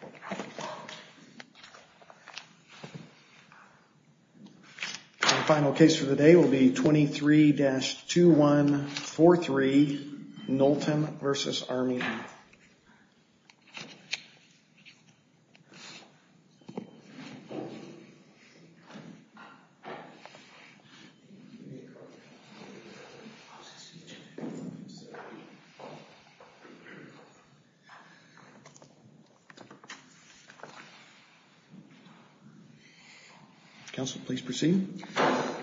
The final case for the day will be 23-2143, Knowlton v. Armijo. Counsel, please proceed.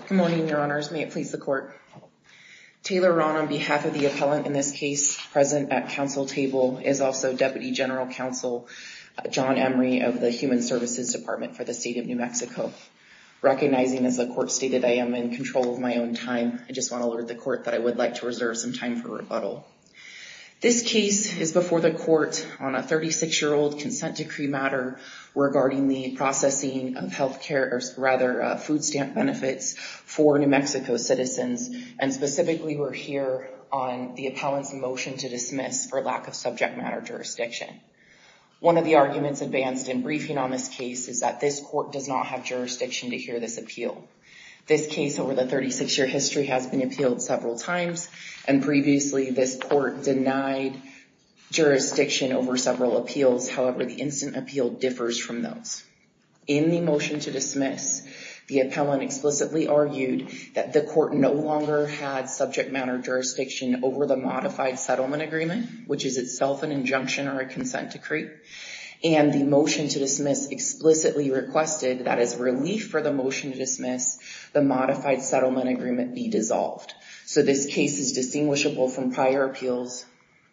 Good morning, your honors. May it please the court. Taylor Rahn, on behalf of the appellant in this case, present at counsel table, is also Deputy General Counsel John Emery of the Human Services Department for the State of New Mexico. Recognizing, as the court stated, I am in control of my own time, I just want to alert the court that I would like to reserve some time for rebuttal. This case is before the court on a 36-year-old consent decree. This case is before the court on a 36-year-old consent decree regarding the processing of food stamp benefits for New Mexico citizens, and specifically we're here on the appellant's motion to dismiss for lack of subject matter jurisdiction. One of the arguments advanced in briefing on this case is that this court does not have jurisdiction to hear this appeal. This case over the 36-year history has been appealed several times, and previously this court denied jurisdiction over several appeals. However, the instant appeal differs from those. In the motion to dismiss, the appellant explicitly argued that the court no longer had subject matter jurisdiction over the modified settlement agreement, which is itself an injunction or a consent decree. And the motion to dismiss explicitly requested that as relief for the motion to dismiss, the modified settlement agreement be dissolved. So this case is distinguishable from prior appeals.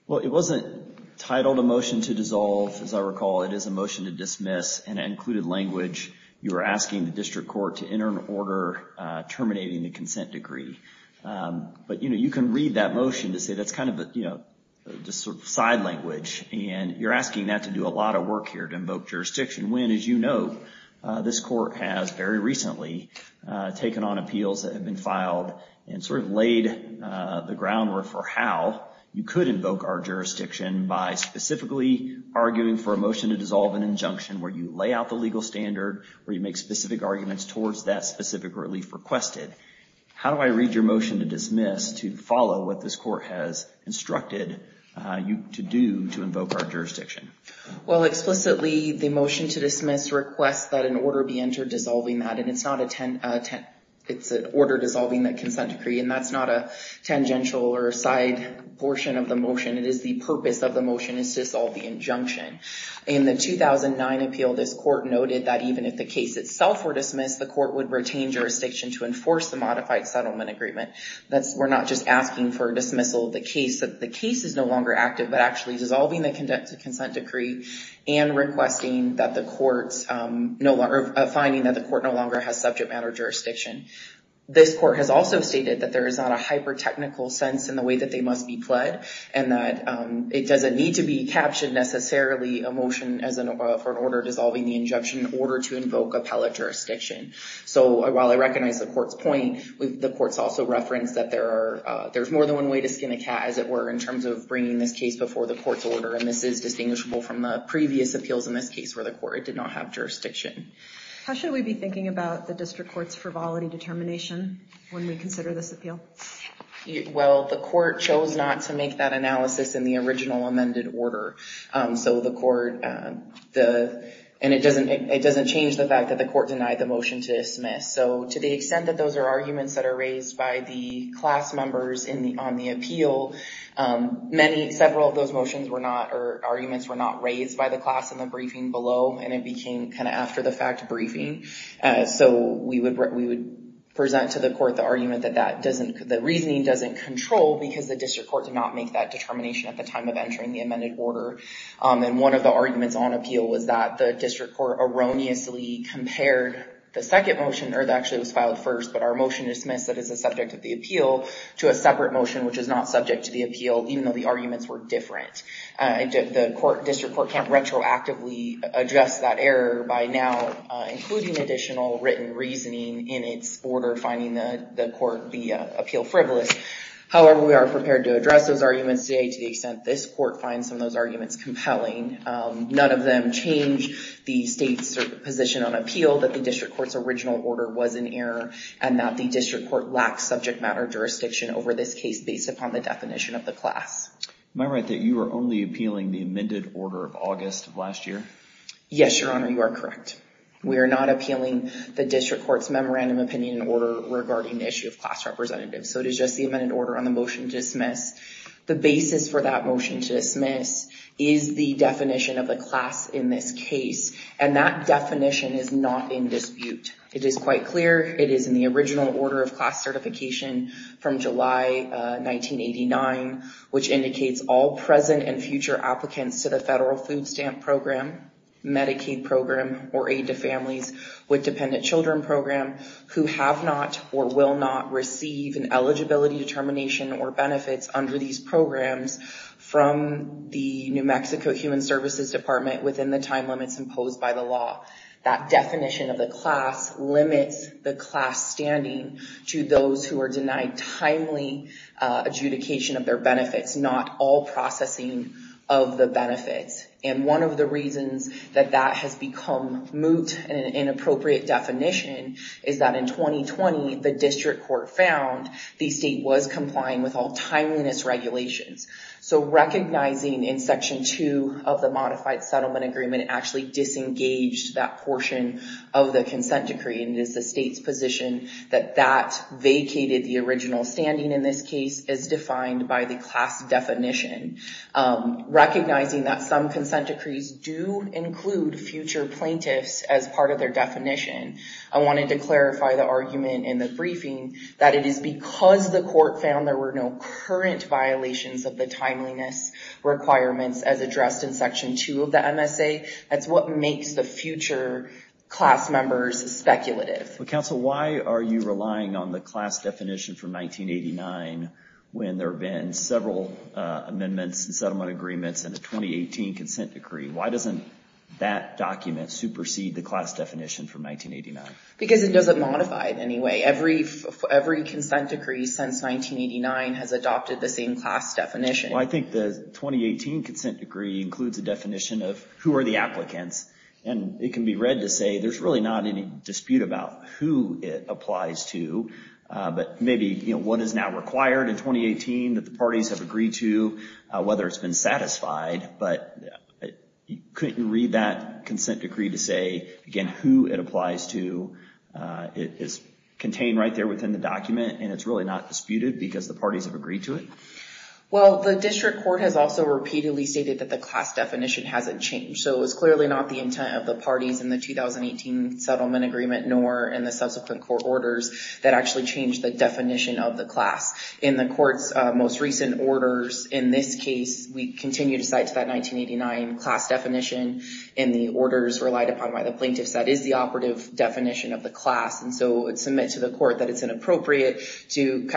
Well, it wasn't titled a motion to dissolve. As I recall, it is a motion to dismiss, and it included language. You are asking the district court to enter an order terminating the consent decree. But you can read that motion to say that's kind of a side language, and you're asking that to do a lot of work here to invoke jurisdiction, when, as you know, this court has very recently taken on appeals that have been filed and sort of laid the groundwork for how you could invoke our jurisdiction by specifically arguing for a motion to dissolve an injunction where you lay out the legal standard, where you make specific arguments towards that specific relief requested. How do I read your motion to dismiss to follow what this court has instructed you to do to invoke our jurisdiction? Well, explicitly, the motion to dismiss requests that an order be entered dissolving that, and it's an order dissolving the consent decree, and that's not a tangential or a side portion of the motion. It is the purpose of the motion is to dissolve the injunction. In the 2009 appeal, this court noted that even if the case itself were dismissed, the court would retain jurisdiction to enforce the modified settlement agreement. That's, we're not just asking for dismissal of the case, that the case is no longer active, but actually dissolving the consent decree and requesting that the courts, or finding that the court no longer has subject matter jurisdiction. This court has also stated that there is not a hyper-technical sense in the way that they must be pled, and that it doesn't need to be captioned necessarily a motion for an order dissolving the injunction in order to invoke appellate jurisdiction. So while I recognize the court's point, the court's also referenced that there's more than one way to skin a cat, as it were, in terms of bringing this case before the court's order, and this is distinguishable from the previous appeals in this case where the court did not have jurisdiction. How should we be thinking about the district court's frivolity determination when we consider this appeal? Well, the court chose not to make that analysis in the original amended order. So the court, and it doesn't change the fact that the court denied the motion to dismiss. So to the extent that those are arguments that are raised by the class members on the appeal, several of those arguments were not raised by the class in the briefing below, and it became kind of after the fact briefing. So we would present to the court the argument that the reasoning doesn't control because the district court did not make that determination at the time of entering the amended order. And one of the arguments on appeal was that the district court erroneously compared the second motion, or that actually was filed first, but our motion dismissed that as a subject of the appeal, to a separate motion which is not subject to the appeal, even though the arguments were different. The district court can't retroactively address that error by now including additional written reasoning in its order, finding the appeal frivolous. However, we are prepared to address those arguments today to the extent this court finds some of those arguments compelling. None of them change the state's position on appeal, that the district court's original order was an error, and that the district court lacks subject matter jurisdiction over this case based upon the definition of the class. Am I right that you are only appealing the amended order of August of last year? Yes, Your Honor, you are correct. We are not appealing the district court's memorandum opinion order regarding the issue of class representatives. So it is just the amended order on the motion to dismiss. The basis for that motion to dismiss is the definition of the class in this case, and that definition is not in dispute. It is quite clear it is in the original order of class certification from July 1989, which indicates all present and future applicants to the federal food stamp program, Medicaid program, or Aid to Families with Dependent Children program who have not or will not receive an eligibility determination or benefits under these programs from the New Mexico Human Services Department within the time limits imposed by the law. That definition of the class limits the class standing to those who are denied timely adjudication of their benefits, and that is not all processing of the benefits. And one of the reasons that that has become moot and an inappropriate definition is that in 2020, the district court found the state was complying with all timeliness regulations. So recognizing in Section 2 of the modified settlement agreement actually disengaged that portion of the consent decree, and it is the state's position that that vacated the original standing in this case as defined by the class definition. Recognizing that some consent decrees do include future plaintiffs as part of their definition, I wanted to clarify the argument in the briefing that it is because the court found there were no current violations of the timeliness requirements as addressed in Section 2 of the MSA. That's what makes the future class members speculative. Counsel, why are you relying on the class definition from 1989 when there have been several amendments and settlement agreements and the 2018 consent decree? Why doesn't that document supersede the class definition from 1989? Because it doesn't modify it in any way. Every consent decree since 1989 has adopted the same class definition. I think the 2018 consent decree includes a definition of who are the applicants, and it can be read to say there's really not any dispute about who it applies to, but maybe what is now required in 2018 that the parties have agreed to, whether it's been satisfied, but couldn't you read that consent decree to say, again, who it applies to? It is contained right there within the document, and it's really not disputed because the parties have agreed to it? Well, the district court has also repeatedly stated that the class definition hasn't changed, so it's clearly not the intent of the parties in the 2018 settlement agreement, nor in the subsequent court orders that actually changed the definition of the class. In the court's most recent orders in this case, we continue to cite that 1989 class definition, and the orders relied upon by the plaintiffs that is the operative definition of the class, and so it's submit to the court that it's inappropriate to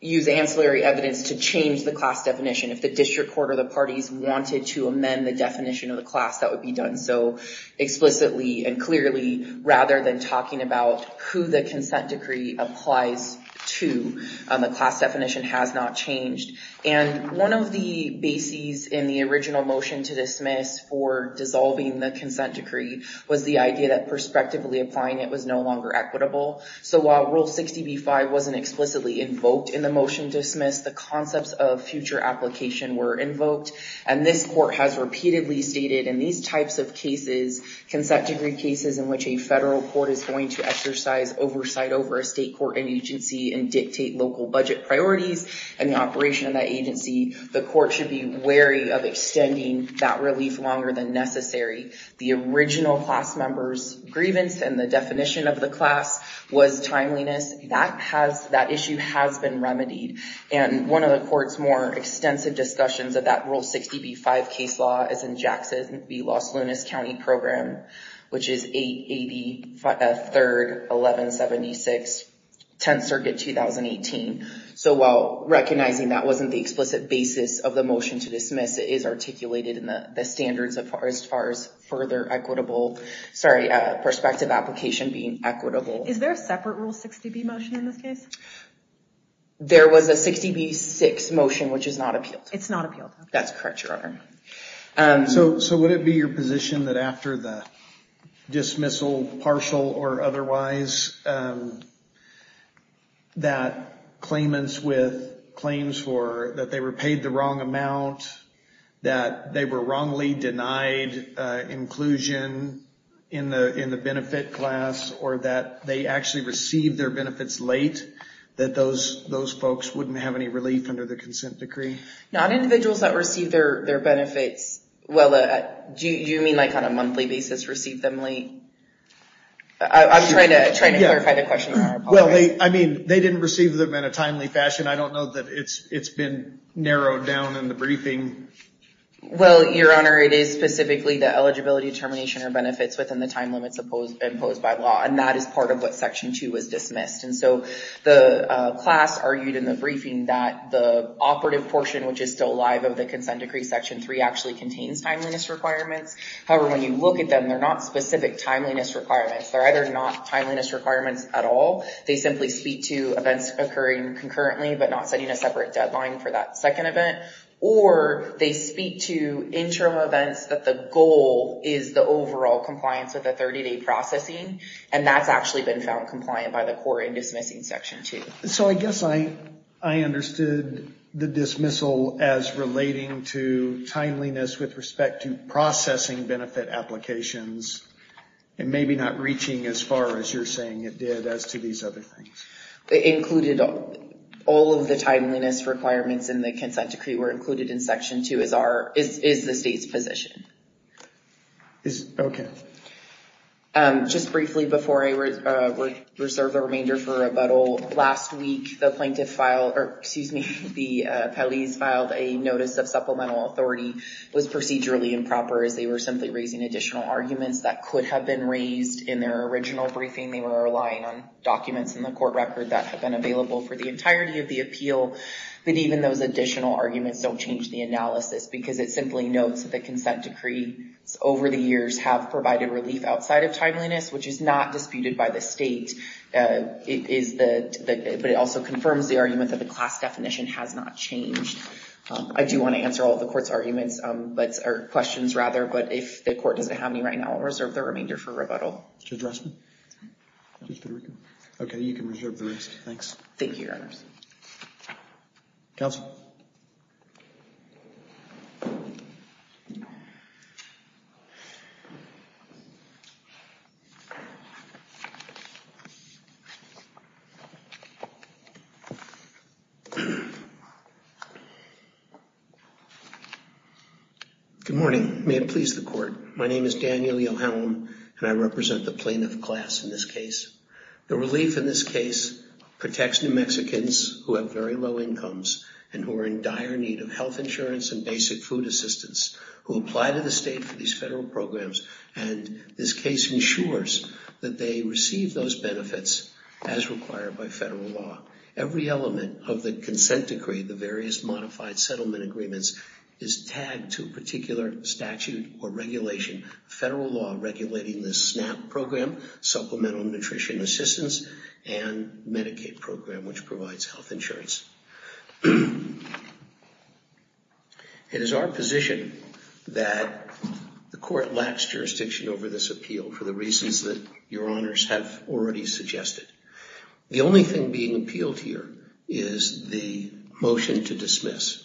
use ancillary evidence to change the class definition. If the district court or the parties wanted to amend the definition of the class, that would be done so explicitly and clearly rather than talking about who the consent decree applies to. The class definition has not changed, and one of the bases in the original motion to dismiss for dissolving the consent decree was the idea that prospectively applying it was no longer equitable. So while Rule 60b-5 wasn't explicitly invoked in the motion to dismiss, the concepts of future application were invoked, and this court has repeatedly stated in these types of cases, consent decree cases in which a federal court is going to exercise oversight over a state court and agency and dictate local budget priorities and the operation of that agency, the court should be wary of extending that relief longer than necessary. The original class member's grievance and the definition of the class was timeliness. That issue has been remedied, and one of the court's more extensive discussions of that Rule 60b-5 case law is in Jackson v. Los Lunas County Program, which is 880, 3rd, 1176, 10th Circuit, 2018. So while recognizing that wasn't the explicit basis of the motion to dismiss, it is articulated in the standards as far as perspective application being equitable. Is there a separate Rule 60b motion in this case? There was a 60b-6 motion, which is not appealed. It's not appealed? That's correct, Your Honor. So would it be your position that after the dismissal, partial or otherwise, that claimants with claims for that they were paid the wrong amount, that they were wrongly denied inclusion in the benefit class, or that they actually received their benefits late, that those folks wouldn't have any relief under the consent decree? Not individuals that receive their benefits. Well, do you mean like on a monthly basis receive them late? I'm trying to clarify the question. Well, I mean, they didn't receive them in a timely fashion. I don't know that it's been narrowed down in the briefing. Well, Your Honor, it is specifically the eligibility determination or benefits within the time limits imposed by law, and that is part of what Section 2 was dismissed. And so the class argued in the briefing that the operative portion, which is still live of the consent decree, Section 3 actually contains timeliness requirements. However, when you look at them, they're not specific timeliness requirements. They're either not timeliness requirements at all. They simply speak to events occurring concurrently, but not setting a separate deadline for that second event, or they speak to interim events that the goal is the overall compliance with the 30-day processing, and that's actually been found compliant by the court in dismissing Section 2. So I guess I understood the dismissal as relating to timeliness with respect to processing benefit applications and maybe not reaching as far as you're saying it did as to these other things. It included all of the timeliness requirements in the consent decree were included in Section 2 is the state's position. Okay. Just briefly before I reserve the remainder for rebuttal, last week the plaintiff filed, or excuse me, the appellees filed a notice of supplemental authority was procedurally improper as they were simply raising additional arguments that could have been raised in their original briefing. They were relying on documents in the court record that had been available for the entirety of the appeal, but even those additional arguments don't change the analysis because it simply notes that the consent decree over the years have provided relief outside of timeliness, which is not disputed by the state, but it also confirms the argument that the class definition has not changed. I do want to answer all of the court's questions, but if the court doesn't have any right now, I'll reserve the remainder for rebuttal. To address me? Okay, you can reserve the rest. Thanks. Thank you, Your Honors. Counsel? Good morning. May it please the court. My name is Daniel E. O'Halloran, and I represent the plaintiff class in this case. The relief in this case protects New Mexicans who have very low incomes and who are in dire need of health insurance and basic food assistance who apply to the state for these federal programs The relief in this case protects New Mexicans who have very low incomes and this case ensures that they receive those benefits as required by federal law. Every element of the consent decree, the various modified settlement agreements, is tagged to a particular statute or regulation, federal law regulating this SNAP program, Supplemental Nutrition Assistance, and Medicaid program, which provides health insurance. It is our position that the court lacks jurisdiction over this appeal for the reasons that Your Honors have already suggested. The only thing being appealed here is the motion to dismiss.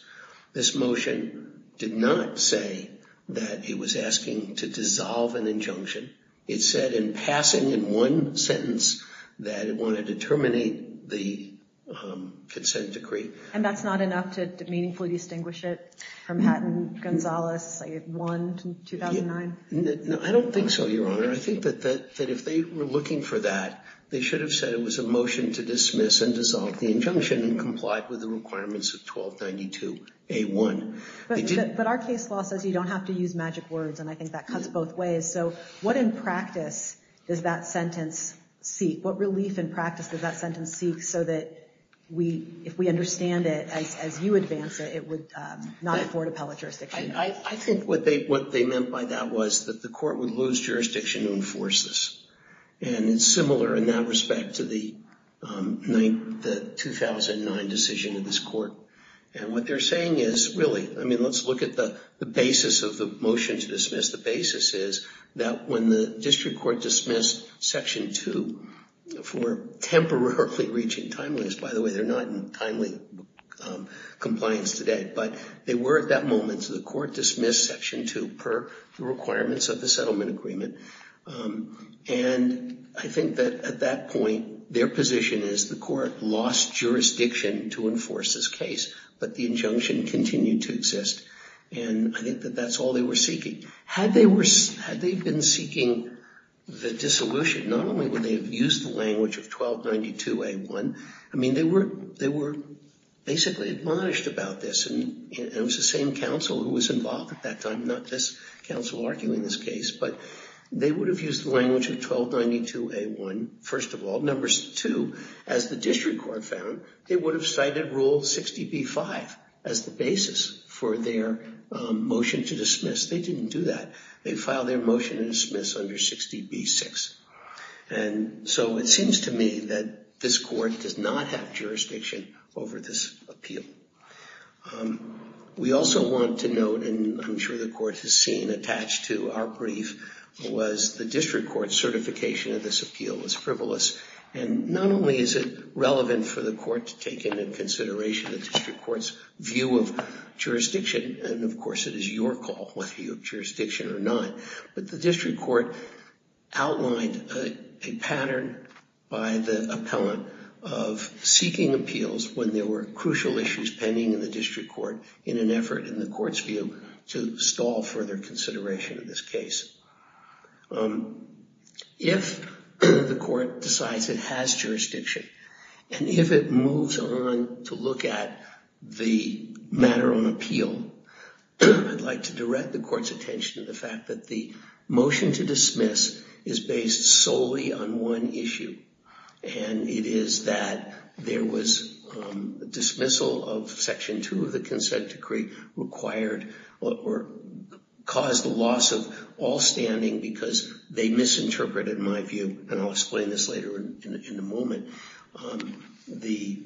This motion did not say that it was asking to dissolve an injunction. It said in passing in one sentence that it wanted to terminate the consent decree. And that's not enough to meaningfully distinguish it from Hatton-Gonzalez 1, 2009? I don't think so, Your Honor. I think that if they were looking for that, they should have said it was a motion to dismiss and dissolve the injunction and complied with the requirements of 1292A1. But our case law says you don't have to use magic words and I think that cuts both ways. So what in practice does that sentence seek? So that if we understand it as you advance it, it would not afford appellate jurisdiction. I think what they meant by that was that the court would lose jurisdiction to enforce this. And it's similar in that respect to the 2009 decision of this court. And what they're saying is, really, I mean let's look at the basis of the motion to dismiss. The basis is that when the district court dismissed Section 2 for temporarily reaching timeliness. By the way, they're not in timely compliance today. But they were at that moment, so the court dismissed Section 2 per the requirements of the settlement agreement. And I think that at that point, their position is the court lost jurisdiction to enforce this case. But the injunction continued to exist. And I think that that's all they were seeking. Had they been seeking the dissolution, not only would they have used the language of 1292A1, I mean they were basically admonished about this. And it was the same counsel who was involved at that time, not this counsel arguing this case. But they would have used the language of 1292A1, first of all. Numbers 2, as the district court found, they would have cited Rule 60B5 as the basis for their motion to dismiss. They didn't do that. They filed their motion to dismiss under 60B6. And so it seems to me that this court does not have jurisdiction over this appeal. We also want to note, and I'm sure the court has seen attached to our brief, was the district court's certification of this appeal was frivolous. And not only is it relevant for the court to take into consideration the district court's view of jurisdiction, and of course it is your call whether you have jurisdiction or not, but the district court outlined a pattern by the appellant of seeking appeals when there were crucial issues pending in the district court in an effort in the court's view to stall further consideration of this case. If the court decides it has jurisdiction, and if it moves on to look at the matter on appeal, I'd like to direct the court's attention to the fact that the motion to dismiss is based solely on one issue, and it is that there was dismissal of Section 2 of the Consent Decree caused the loss of all standing because they misinterpreted my view, and I'll explain this later in a moment, the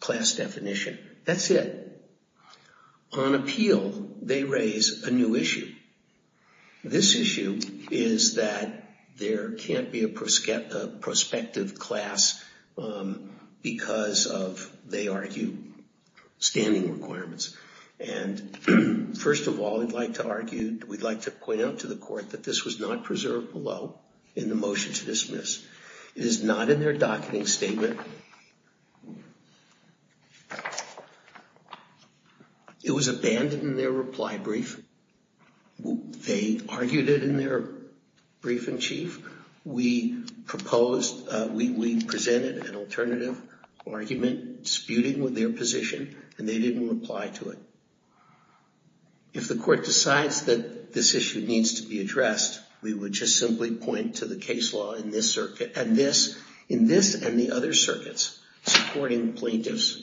class definition. That's it. On appeal, they raise a new issue. This issue is that there can't be a prospective class because of, they argue, standing requirements. And first of all, we'd like to point out to the court that this was not preserved below in the motion to dismiss. It is not in their docketing statement. It was abandoned in their reply brief. They argued it in their brief-in-chief. We proposed, we presented an alternative argument disputing with their position, and they didn't reply to it. If the court decides that this issue needs to be addressed, we would just simply point to the case law in this and the other circuits supporting plaintiffs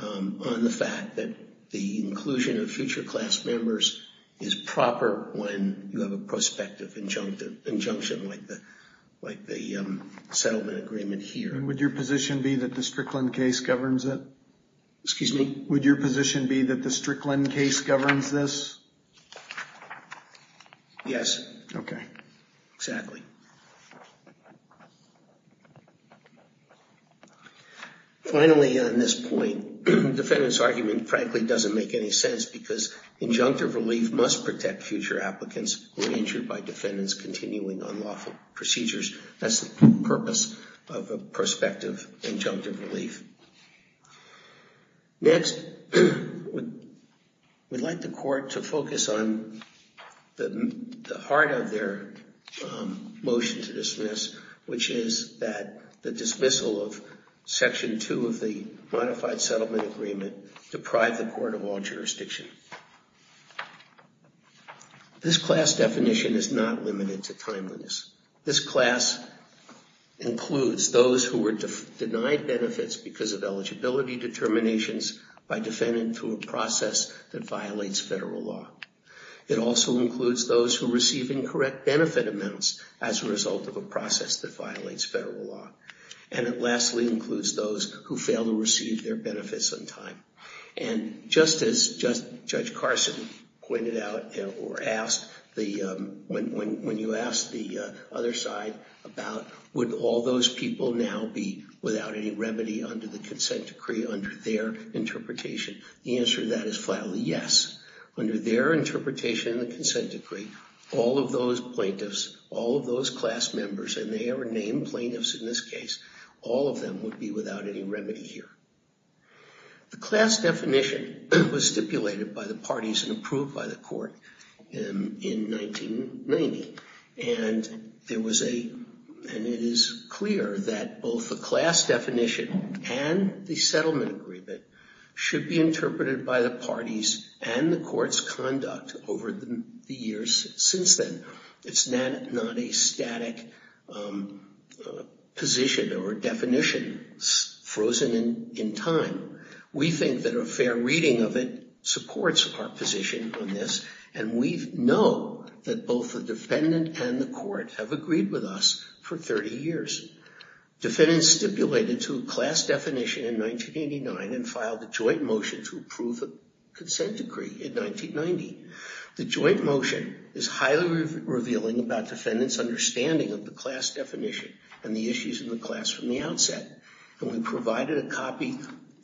on the fact that the inclusion of future class members is proper when you have a prospective injunction like the settlement agreement here. Would your position be that the Strickland case governs it? Excuse me? Would your position be that the Strickland case governs this? Yes. Okay. Exactly. Finally, on this point, defendant's argument frankly doesn't make any sense because injunctive relief must protect future applicants who are injured by defendants continuing unlawful procedures. That's the purpose of a prospective injunctive relief. Next, we'd like the court to focus on the heart of their motion to dismiss, which is that the dismissal of Section 2 of the Modified Settlement Agreement deprive the court of all jurisdiction. This class definition is not limited to timeliness. This class includes those who were denied benefits because of eligibility determinations by defendant through a process that violates federal law. It also includes those who receive incorrect benefit amounts as a result of a process that violates federal law. And it lastly includes those who fail to receive their benefits on time. And just as Judge Carson pointed out or asked, when you asked the other side about, would all those people now be without any remedy under the consent decree under their interpretation, the answer to that is flatly yes. Under their interpretation of the consent decree, all of those plaintiffs, all of those class members, and they are named plaintiffs in this case, all of them would be without any remedy here. The class definition was stipulated by the parties and approved by the court in 1990. And it is clear that both the class definition and the settlement agreement should be interpreted by the parties and the court's conduct over the years since then. It's not a static position or definition frozen in time. We think that a fair reading of it supports our position on this and we know that both the defendant and the court have agreed with us for 30 years. Defendants stipulated to a class definition in 1989 and filed a joint motion to approve a consent decree in 1990. The joint motion is highly revealing about defendants' understanding of the class definition and the issues in the class from the outset. And we provided a copy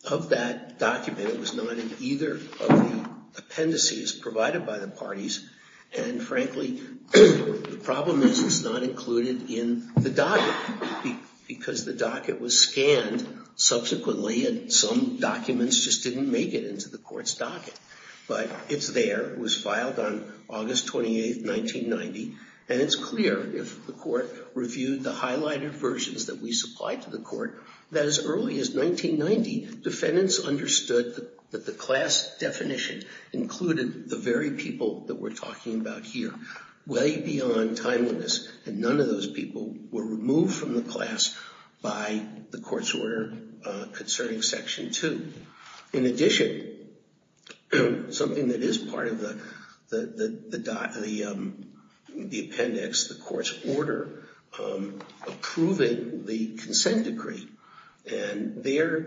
of that document. It was not in either of the appendices provided by the parties. And frankly, the problem is it's not included in the docket because the docket was scanned subsequently and some documents just didn't make it into the court's docket. But it's there. It was filed on August 28, 1990. And it's clear if the court reviewed the highlighted versions that we supplied to the court that as early as 1990, defendants understood that the class definition included the very people that we're talking about here way beyond timeliness. And none of those people were removed from the class by the court's order concerning Section 2. In addition, something that is part of the appendix, the court's order approving the consent decree. And there,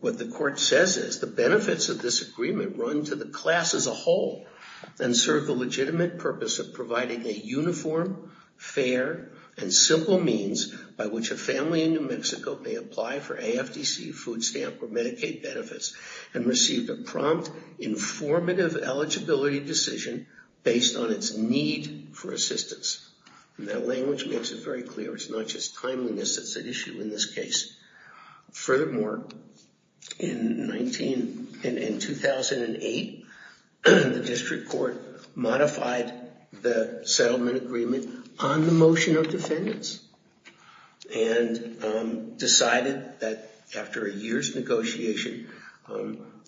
what the court says is, the benefits of this agreement run to the class as a whole and serve the legitimate purpose of providing a uniform, fair, and simple means by which a family in New Mexico may apply for AFDC, food stamp, or Medicaid benefits and receive a prompt, informative eligibility decision based on its need for assistance. And that language makes it very clear. It's not just timeliness that's at issue in this case. Furthermore, in 2008, the district court modified the settlement agreement on the motion of defendants and decided that after a year's negotiation,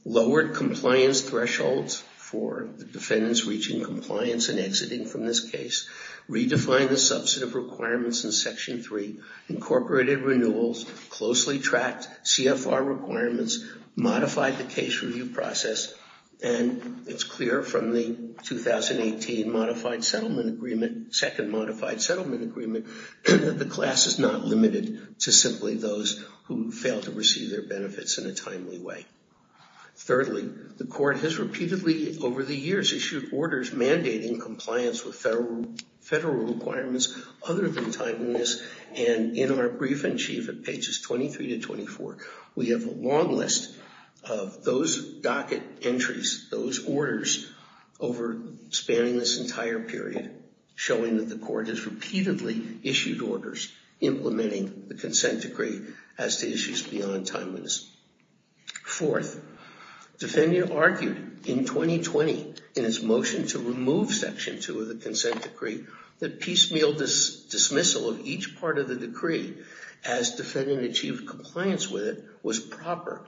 lowered compliance thresholds for the defendants reaching compliance and exiting from this case, redefined the substantive requirements in Section 3, incorporated renewals, closely tracked CFR requirements, modified the case review process, and it's clear from the 2018 modified settlement agreement, second modified settlement agreement, that the class is not limited to simply those who fail to receive their benefits in a timely way. Thirdly, the court has repeatedly over the years issued orders mandating compliance with federal requirements other than timeliness, and in our brief in chief at pages 23 to 24, we have a long list of those docket entries, those orders over spanning this entire period showing that the court has repeatedly issued orders implementing the consent decree as to issues beyond timeliness. Fourth, defendant argued in 2020 in his motion to remove Section 2 of the consent decree that piecemeal dismissal of each part of the decree as defendant achieved compliance with it was proper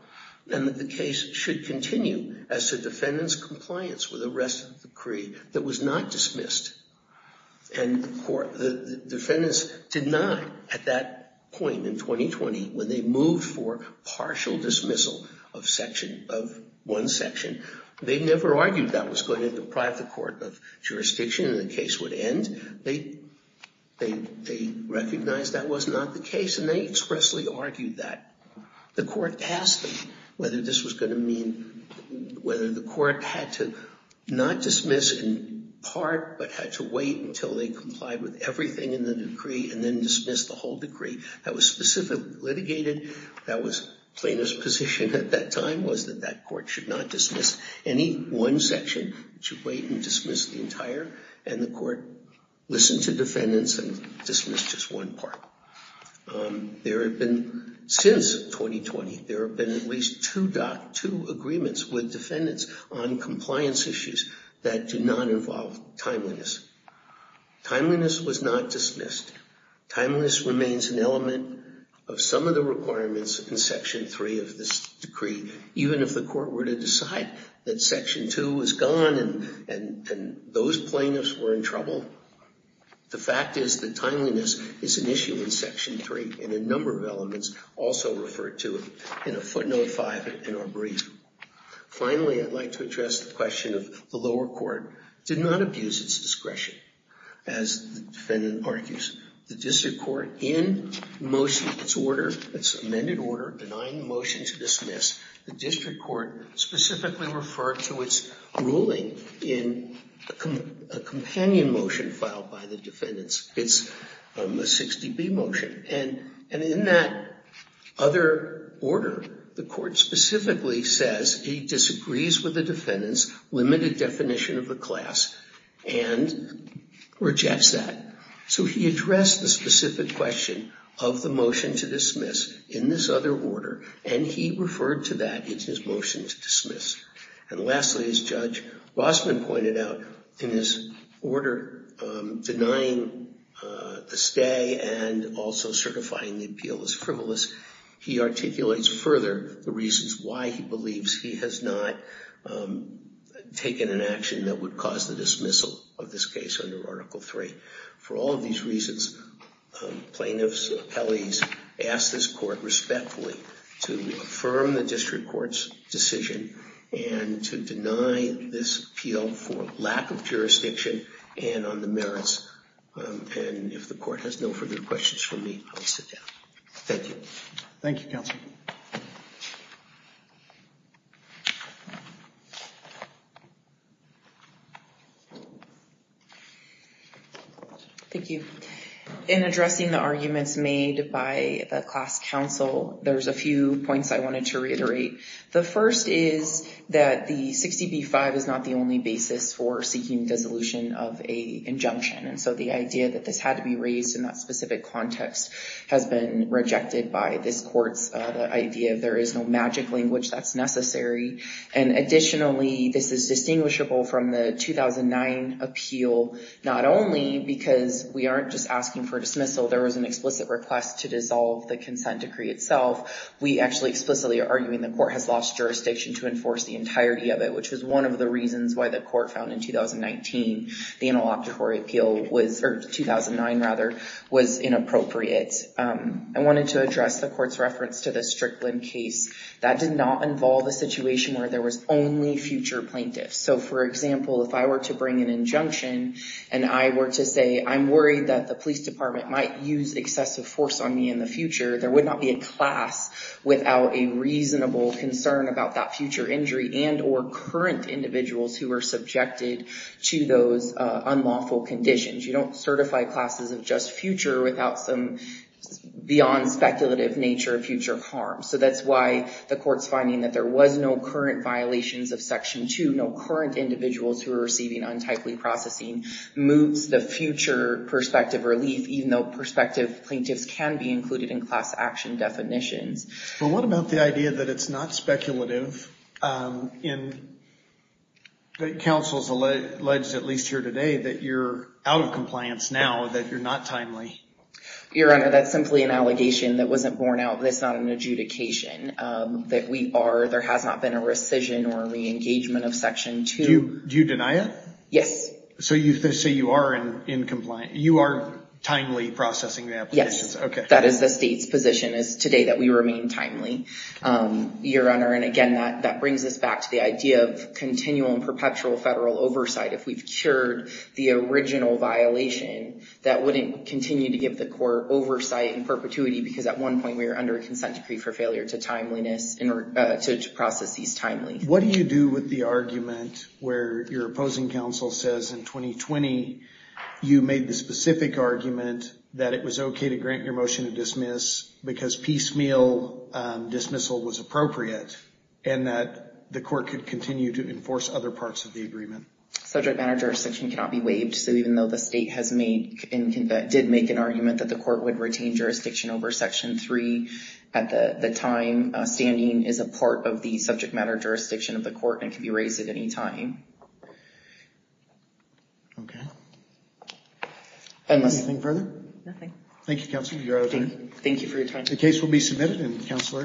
and that the case should continue as to defendant's compliance with the rest of the decree that was not dismissed. And the defendants did not at that point in 2020 when they moved for partial dismissal of one section, they never argued that was going to deprive the court of jurisdiction and the case would end. They recognized that was not the case and they expressly argued that. The court asked whether this was going to mean whether the court had to not dismiss in part but had to wait until they complied with everything in the decree and then dismiss the whole decree that was specifically litigated. That was plaintiff's position at that time was that that court should not dismiss any one section. It should wait and dismiss the entire and the court listened to defendants and dismissed just one part. There have been, since 2020, there have been at least two agreements with defendants on compliance issues that do not involve timeliness. Timeliness was not dismissed. Timeliness remains an element of some of the requirements in section three of this decree even if the court were to decide that section two was gone and those plaintiffs were in trouble. The fact is that timeliness is an issue in section three and a number of elements also refer to it in a footnote five in our brief. Finally, I'd like to address the question of the lower court did not abuse its discretion as the defendant argues. The district court in motion, its order, its amended order denying the motion to dismiss, the district court specifically referred to its ruling in a companion motion filed by the defendants. It's a 60B motion and in that other order, the court specifically says he disagrees with the defendants, limited definition of the class, and rejects that. So he addressed the specific question of the motion to dismiss in this other order and he referred to that in his motion to dismiss. And lastly, as Judge Rossman pointed out, in his order denying the stay and also certifying the appeal as frivolous, he articulates further the reasons why he believes he has not taken an action that would cause the dismissal of this case under article three. For all of these reasons, plaintiffs, appellees ask this court respectfully to affirm the district court's decision and to deny this appeal for lack of jurisdiction and on the merits. And if the court has no further questions from me, I will sit down. Thank you. Thank you, counsel. Thank you. In addressing the arguments made by the class counsel, there's a few points I wanted to reiterate. The first is that the 60B-5 is not the only basis for seeking dissolution of a injunction and so the idea that this had to be raised in that specific context has been rejected by this court's idea of there is no magic language that's necessary. And additionally, this is distinguishable from the 2009 appeal not only because we aren't just asking for dismissal. There was an explicit request to dissolve the consent decree itself. We actually explicitly are arguing the court has lost jurisdiction to enforce the entirety of it, which was one of the reasons why the court found in 2019 the interlocutory appeal was or 2009, rather, was inappropriate. I wanted to address the court's reference to the Strickland case. That did not involve a situation where there was only future plaintiffs. So for example, if I were to bring an injunction and I were to say, I'm worried that the police department might use excessive force on me in the future, there would not be a class without a reasonable concern about that future injury and or current individuals who were subjected to those unlawful conditions. You don't certify classes of just future without some beyond speculative nature of future harm. So that's why the court's finding that there was no current violations of Section 2, no current individuals who are receiving untypely processing moves the future prospective relief, even though prospective plaintiffs can be included in class action definitions. But what about the idea that it's not speculative, and that counsel's alleged, at least here today, that you're out of compliance now, that you're not timely? Your Honor, that's simply an allegation that wasn't borne out. That's not an adjudication. That we are, there has not been a rescission or re-engagement of Section 2. Do you deny it? Yes. So you say you are in compliance. You are timely processing the applications. Yes. That is the state's position, is today that we remain timely. Your Honor, and again, that brings us back to the idea of continual and perpetual federal oversight. If we've cured the original violation, that wouldn't continue to give the court oversight and perpetuity, because at one point we were under a consent decree for failure to process these timely. What do you do with the argument where your opposing counsel says, in 2020, you made the specific argument that it was okay to grant your motion to dismiss because piecemeal dismissal was appropriate, and that the court could continue to enforce other parts of the agreement? Subject matter jurisdiction cannot be waived, so even though the state has made, did make an argument that the court would retain jurisdiction over Section 3, at the time standing is a part of the subject matter jurisdiction of the court and can be raised at any time. Okay. Anything further? Nothing. Thank you, Counsel. You're out of time. Thank you for your time. The case will be submitted, and Counselor,